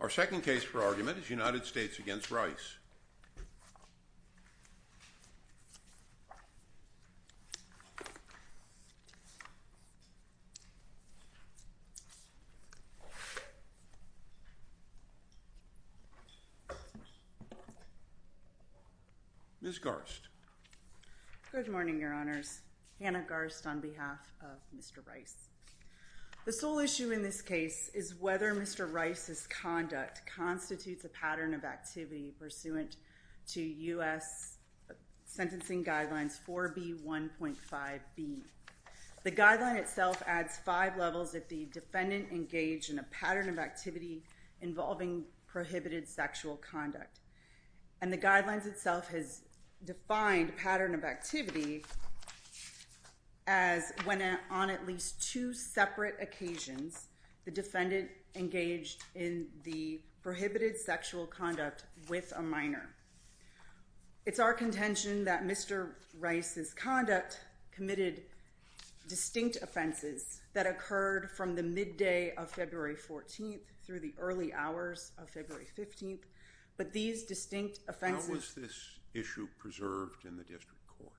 Our second case for argument is United States v. Rice. Ms. Garst. Good morning, Your Honors. Hannah Garst on behalf of Mr. Rice. The sole issue in this case is whether Mr. Rice's conduct constitutes a pattern of activity pursuant to U.S. Sentencing Guidelines 4B1.5b. The guideline itself adds five levels if the defendant engaged in a pattern of activity involving prohibited sexual conduct. And the guidelines itself has defined pattern of activity as when on at least two separate occasions the defendant engaged in the prohibited sexual conduct with a minor. It's our contention that Mr. Rice's conduct committed distinct offenses that occurred from the midday of February 14th through the early hours of February 15th, but these distinct offenses... How was this issue preserved in the district court?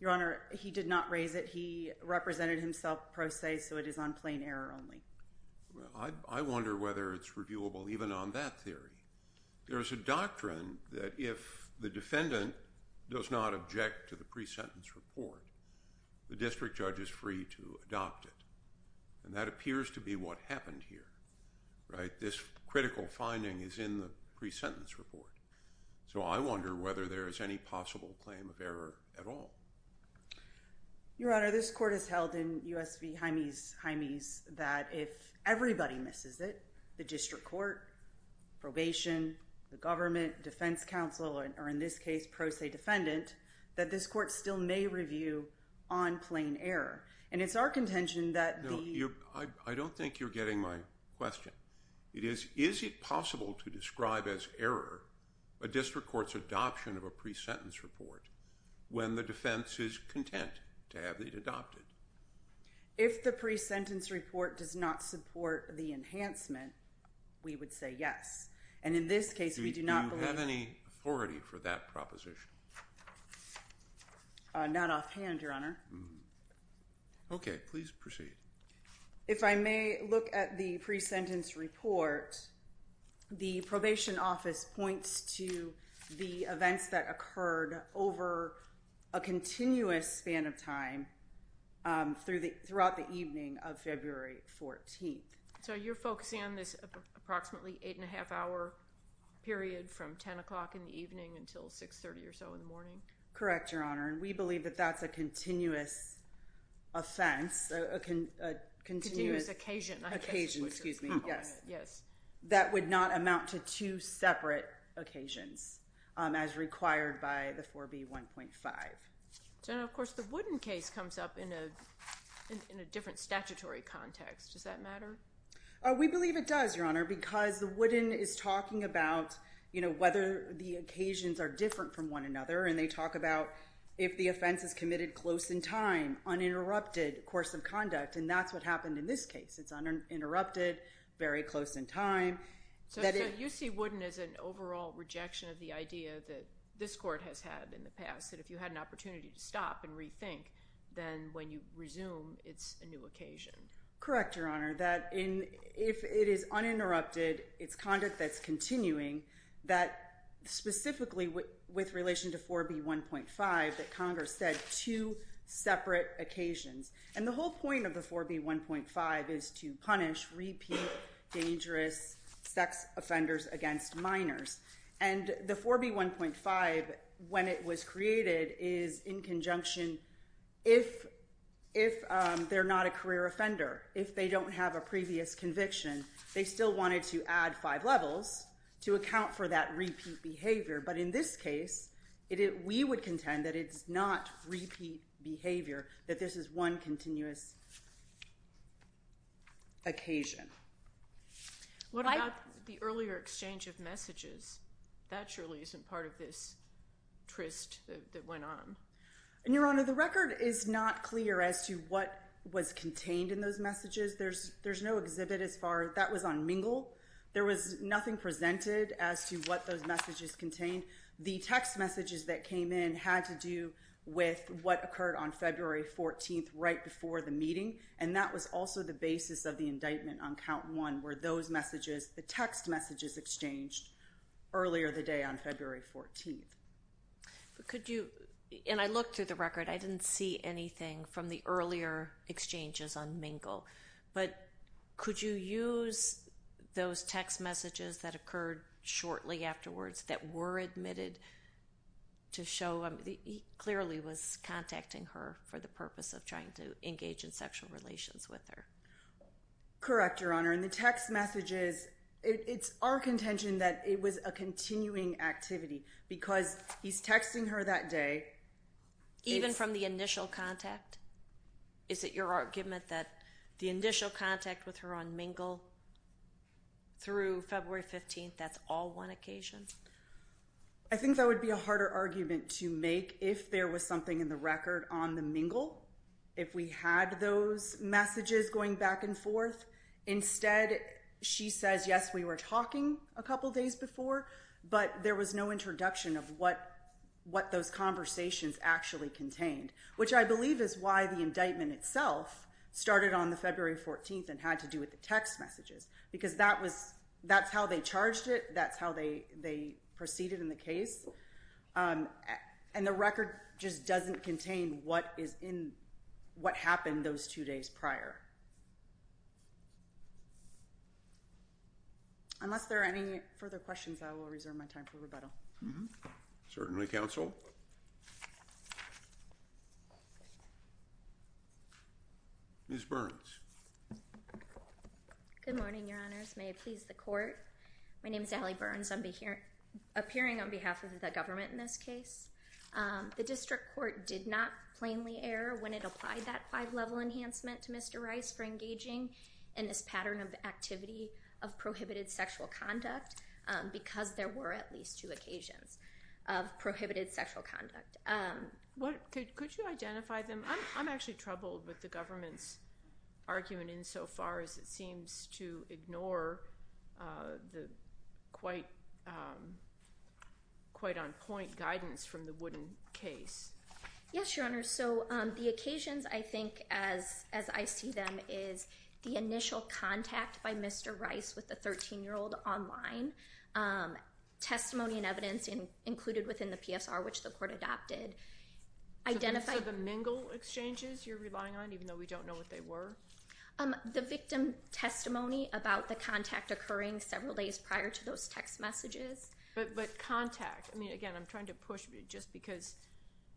Your Honor, he did not raise it. He represented himself pro se, so it is on plain error only. Well, I wonder whether it's reviewable even on that theory. There is a doctrine that if the defendant does not object to the pre-sentence report, the district judge is free to adopt it. And that appears to be what happened here, right? This critical finding is in the pre-sentence report. So I wonder whether there is any possible claim of error at all. Your Honor, this court has held in U.S. v. Jaime's that if everybody misses it, the district court, probation, the government, defense counsel, or in this case, pro se defendant, that this court still may review on plain error. And it's our contention that the... I don't think you're getting my question. It is, is it possible to describe as error a district court's adoption of a pre-sentence report when the defense is content to have it adopted? If the pre-sentence report does not support the enhancement, we would say yes. And in this case, we do not believe... Do you have any authority for that proposition? Not offhand, Your Honor. Okay. Please proceed. If I may look at the pre-sentence report, the probation office points to the events that occurred over a continuous span of time throughout the evening of February 14th. So you're focusing on this approximately eight-and-a-half-hour period from 10 o'clock in the evening until 6.30 or so in the morning? Correct, Your Honor. And we believe that that's a continuous offense, a continuous... Continuous occasion. Occasion, excuse me. Yes. That would not amount to two separate occasions as required by the 4B1.5. So now, of course, the Woodin case comes up in a different statutory context. Does that matter? We believe it does, Your Honor, because the Woodin is talking about, you know, whether the occasions are different from one another, and they talk about if the offense is committed close in time, uninterrupted course of conduct, and that's what happened in this case. It's uninterrupted, very close in time. So you see Woodin as an overall rejection of the idea that this court has had in the past, that if you had an opportunity to stop and rethink, then when you resume, it's a new occasion. Correct, Your Honor. That if it is uninterrupted, it's conduct that's continuing, that specifically with relation to 4B1.5, that Congress said two separate occasions. And the whole point of the 4B1.5 is to punish repeat dangerous sex offenders against minors. And the 4B1.5, when it was created, is in conjunction. If they're not a career offender, if they don't have a previous conviction, they still wanted to add five levels to account for that repeat behavior. But in this case, we would contend that it's not repeat behavior, that this is one continuous occasion. What about the earlier exchange of messages? That surely isn't part of this tryst that went on. Your Honor, the record is not clear as to what was contained in those messages. There's no exhibit as far as that was on Mingle. There was nothing presented as to what those messages contained. The text messages that came in had to do with what occurred on February 14th right before the meeting, and that was also the basis of the indictment on Count 1, where those messages, the text messages exchanged earlier the day on February 14th. Could you, and I looked through the record. I didn't see anything from the earlier exchanges on Mingle. But could you use those text messages that occurred shortly afterwards that were admitted to show, he clearly was contacting her for the purpose of trying to engage in sexual relations with her. Correct, Your Honor, and the text messages, it's our contention that it was a continuing activity because he's texting her that day. Even from the initial contact? Is it your argument that the initial contact with her on Mingle through February 15th, that's all one occasion? I think that would be a harder argument to make if there was something in the record on the Mingle, if we had those messages going back and forth. Instead, she says, yes, we were talking a couple days before, but there was no introduction of what those conversations actually contained, which I believe is why the indictment itself started on the February 14th and had to do with the text messages, because that's how they charged it. That's how they proceeded in the case. And the record just doesn't contain what happened those two days prior. Unless there are any further questions, I will reserve my time for rebuttal. Certainly, Counsel. Ms. Burns. May it please the Court. My name is Allie Burns. I'm appearing on behalf of the government in this case. The district court did not plainly err when it applied that five-level enhancement to Mr. Rice for engaging in this pattern of activity of prohibited sexual conduct because there were at least two occasions of prohibited sexual conduct. Could you identify them? I'm actually troubled with the government's argument insofar as it seems to ignore the quite on point guidance from the Wooden case. Yes, Your Honor. So the occasions I think as I see them is the initial contact by Mr. Rice with the 13-year-old online, testimony and evidence included within the PSR, which the court adopted. So the mingle exchanges you're relying on, even though we don't know what they were? The victim testimony about the contact occurring several days prior to those text messages. But contact. I mean, again, I'm trying to push just because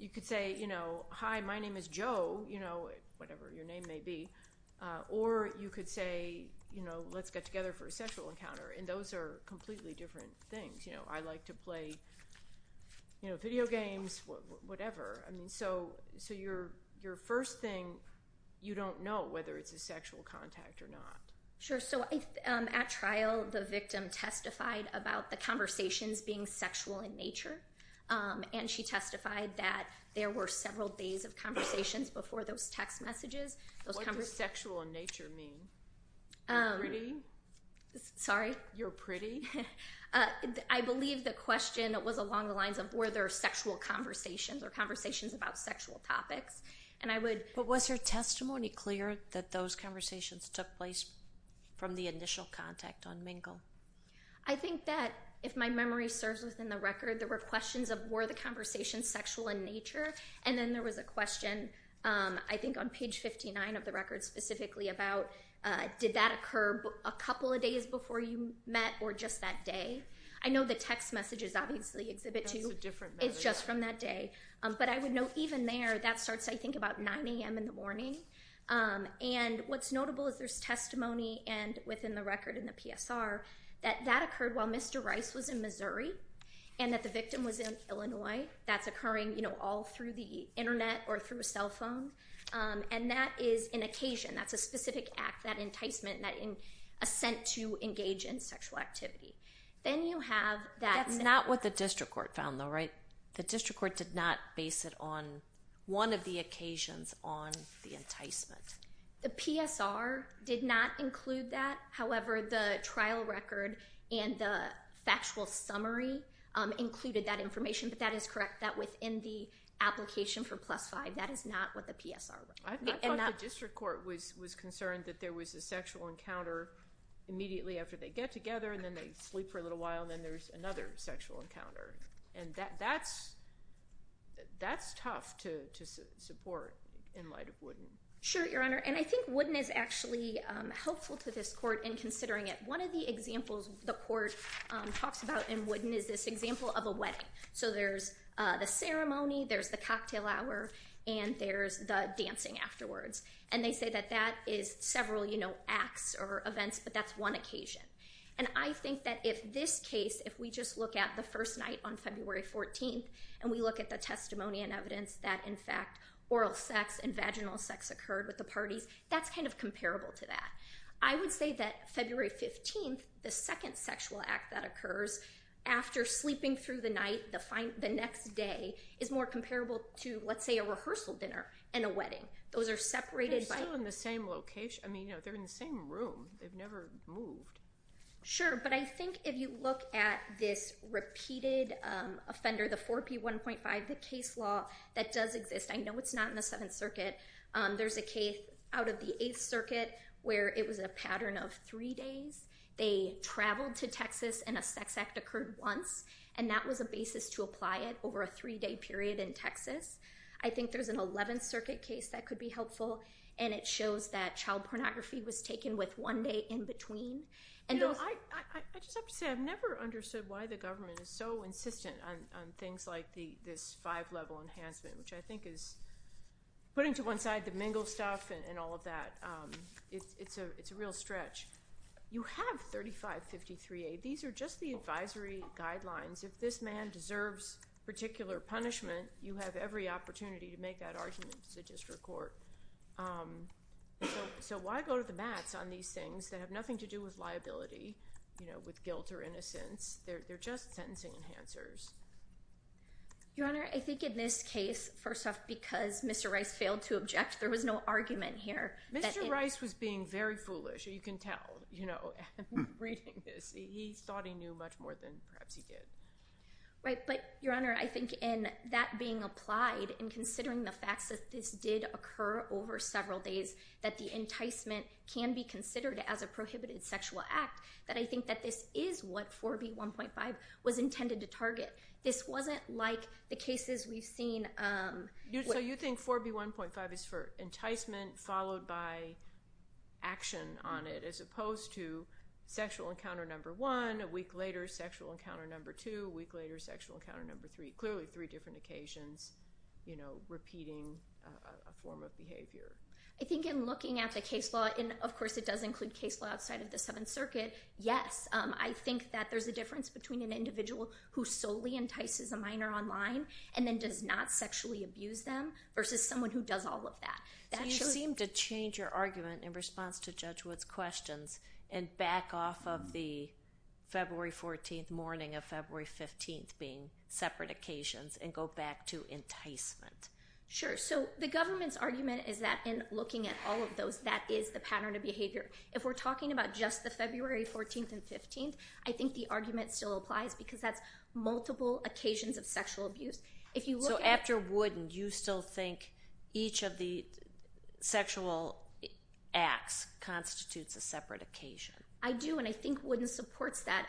you could say, you know, hi, my name is Joe, you know, whatever your name may be. Or you could say, you know, let's get together for a sexual encounter. And those are completely different things. You know, I like to play video games, whatever. So your first thing, you don't know whether it's a sexual contact or not. Sure. So at trial the victim testified about the conversations being sexual in nature, and she testified that there were several days of conversations before those text messages. What does sexual in nature mean? Pretty? Sorry? You're pretty? I believe the question was along the lines of were there sexual conversations or conversations about sexual topics. But was her testimony clear that those conversations took place from the initial contact on mingle? I think that if my memory serves within the record, there were questions of were the conversations sexual in nature, and then there was a question I think on page 59 of the record specifically about did that occur a couple of days before you met or just that day. I know the text messages obviously exhibit two. That's a different matter. It's just from that day. But I would note even there, that starts, I think, about 9 a.m. in the morning. And what's notable is there's testimony within the record in the PSR that that occurred while Mr. Rice was in Missouri and that the victim was in Illinois. That's occurring, you know, all through the Internet or through a cell phone. And that is an occasion. That's a specific act, that enticement, that assent to engage in sexual activity. Then you have that. That's not what the district court found though, right? The district court did not base it on one of the occasions on the enticement. The PSR did not include that. However, the trial record and the factual summary included that information. But that is correct, that within the application for plus five, that is not what the PSR wrote. I thought the district court was concerned that there was a sexual encounter immediately after they get together and then they sleep for a little while and then there's another sexual encounter. And that's tough to support in light of Wooden. Sure, Your Honor. And I think Wooden is actually helpful to this court in considering it. One of the examples the court talks about in Wooden is this example of a wedding. So there's the ceremony, there's the cocktail hour, and there's the dancing afterwards. And they say that that is several acts or events, but that's one occasion. And I think that if this case, if we just look at the first night on February 14th and we look at the testimony and evidence that, in fact, oral sex and vaginal sex occurred with the parties, that's kind of comparable to that. I would say that February 15th, the second sexual act that occurs after sleeping through the night, the next day, is more comparable to, let's say, a rehearsal dinner and a wedding. Those are separated by- They're still in the same location. I mean, they're in the same room. They've never moved. Sure, but I think if you look at this repeated offender, the 4P1.5, the case law, that does exist. I know it's not in the Seventh Circuit. There's a case out of the Eighth Circuit where it was a pattern of three days. They traveled to Texas and a sex act occurred once, and that was a basis to apply it over a three-day period in Texas. I think there's an Eleventh Circuit case that could be helpful, and it shows that child pornography was taken with one day in between. I just have to say I've never understood why the government is so insistent on things like this five-level enhancement, which I think is putting to one side the mingle stuff and all of that. It's a real stretch. You have 3553A. These are just the advisory guidelines. If this man deserves particular punishment, you have every opportunity to make that argument to the district court. So why go to the mats on these things that have nothing to do with liability, with guilt or innocence? They're just sentencing enhancers. Your Honor, I think in this case, first off, because Mr. Rice failed to object, there was no argument here. Mr. Rice was being very foolish. You can tell, you know, reading this. He thought he knew much more than perhaps he did. Right, but, Your Honor, I think in that being applied and considering the facts that this did occur over several days, that the enticement can be considered as a prohibited sexual act, that I think that this is what 4B1.5 was intended to target. This wasn't like the cases we've seen. So you think 4B1.5 is for enticement followed by action on it as opposed to sexual encounter number one, a week later sexual encounter number two, a week later sexual encounter number three, clearly three different occasions, you know, repeating a form of behavior. I think in looking at the case law, and of course it does include case law outside of the Seventh Circuit, yes. I think that there's a difference between an individual who solely entices a minor online and then does not sexually abuse them versus someone who does all of that. So you seem to change your argument in response to Judge Wood's questions and back off of the February 14th morning of February 15th being separate occasions and go back to enticement. Sure. So the government's argument is that in looking at all of those, that is the pattern of behavior. If we're talking about just the February 14th and 15th, I think the argument still applies because that's multiple occasions of sexual abuse. So after Wood and you still think each of the sexual acts constitutes a separate occasion? I do, and I think Wooden supports that.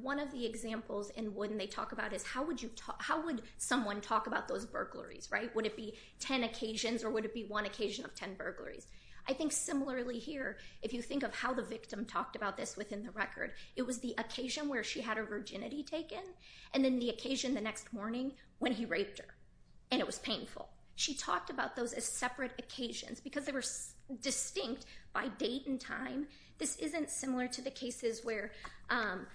One of the examples in Wooden they talk about is how would someone talk about those burglaries, right? Would it be ten occasions or would it be one occasion of ten burglaries? I think similarly here, if you think of how the victim talked about this within the record, it was the occasion where she had her virginity taken and then the occasion the next morning when he raped her, and it was painful. She talked about those as separate occasions because they were distinct by date and time. This isn't similar to the cases where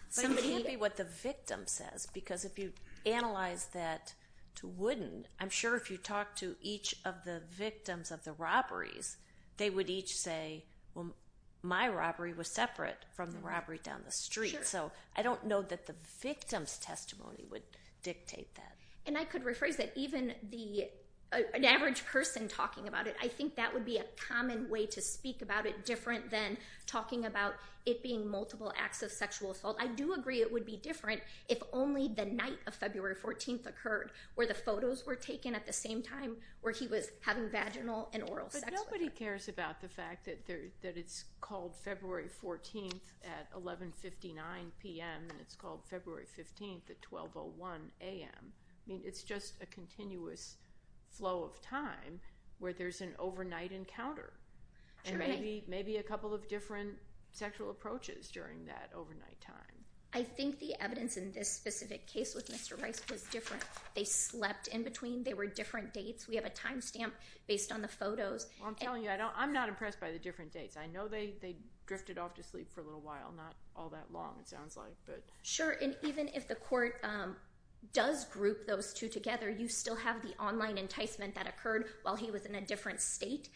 somebody- But it can't be what the victim says because if you analyze that to Wooden, I'm sure if you talk to each of the victims of the robberies, they would each say, well, my robbery was separate from the robbery down the street. So I don't know that the victim's testimony would dictate that. And I could rephrase that. Even an average person talking about it, I think that would be a common way to speak about it different than talking about it being multiple acts of sexual assault. So I do agree it would be different if only the night of February 14th occurred, where the photos were taken at the same time where he was having vaginal and oral sex with her. But nobody cares about the fact that it's called February 14th at 11.59 p.m. and it's called February 15th at 12.01 a.m. I mean, it's just a continuous flow of time where there's an overnight encounter and maybe a couple of different sexual approaches during that overnight time. I think the evidence in this specific case with Mr. Rice was different. They slept in between. They were different dates. We have a time stamp based on the photos. Well, I'm telling you, I'm not impressed by the different dates. I know they drifted off to sleep for a little while, not all that long it sounds like. Sure, and even if the court does group those two together, you still have the online enticement that occurred while he was in a different state.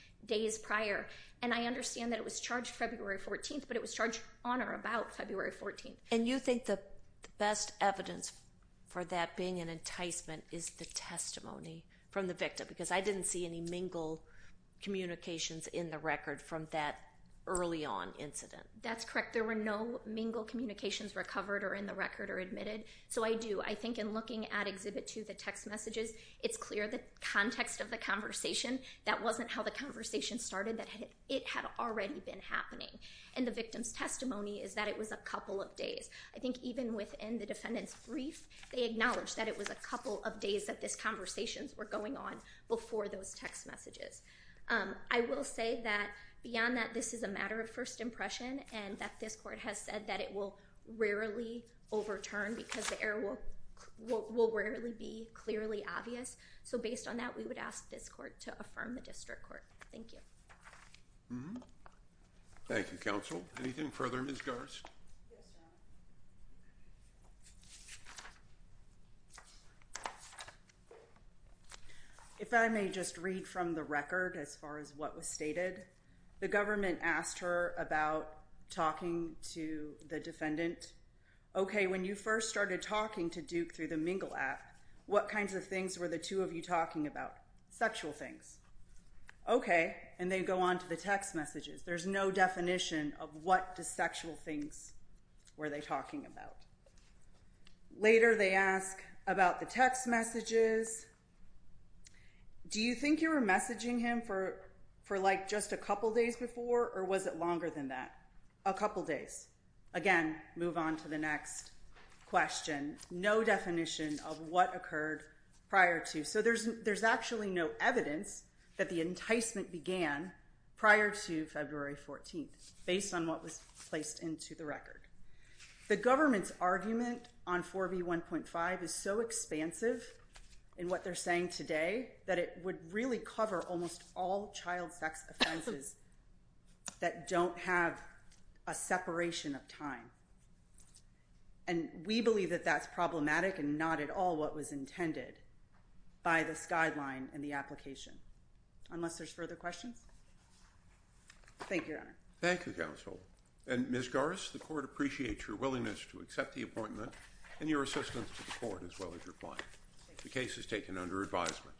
And I understand that it was charged February 14th, but it was charged on or about February 14th. And you think the best evidence for that being an enticement is the testimony from the victim because I didn't see any mingle communications in the record from that early on incident. That's correct. There were no mingle communications recovered or in the record or admitted. So I do. I think in looking at Exhibit 2, the text messages, it's clear the context of the conversation. That wasn't how the conversation started. It had already been happening. And the victim's testimony is that it was a couple of days. I think even within the defendant's brief, they acknowledged that it was a couple of days that these conversations were going on before those text messages. I will say that beyond that, this is a matter of first impression and that this court has said that it will rarely overturn because the error will rarely be clearly obvious. So based on that, we would ask this court to affirm the district court. Thank you. Thank you, counsel. Anything further, Ms. Garst? Yes, Your Honor. If I may just read from the record as far as what was stated, the government asked her about talking to the defendant. Okay, when you first started talking to Duke through the Mingle app, what kinds of things were the two of you talking about? Sexual things. Okay, and they go on to the text messages. There's no definition of what the sexual things were they talking about. Later they ask about the text messages. Do you think you were messaging him for like just a couple days before or was it longer than that? A couple days. Again, move on to the next question. No definition of what occurred prior to. So there's actually no evidence that the enticement began prior to February 14th, based on what was placed into the record. The government's argument on 4B1.5 is so expansive in what they're saying today that it would really cover almost all child sex offenses that don't have a separation of time. And we believe that that's problematic and not at all what was intended by this guideline and the application. Unless there's further questions? Thank you, Your Honor. Thank you, Counsel. And Ms. Garris, the court appreciates your willingness to accept the appointment and your assistance to the court as well as your client. The case is taken under advisement.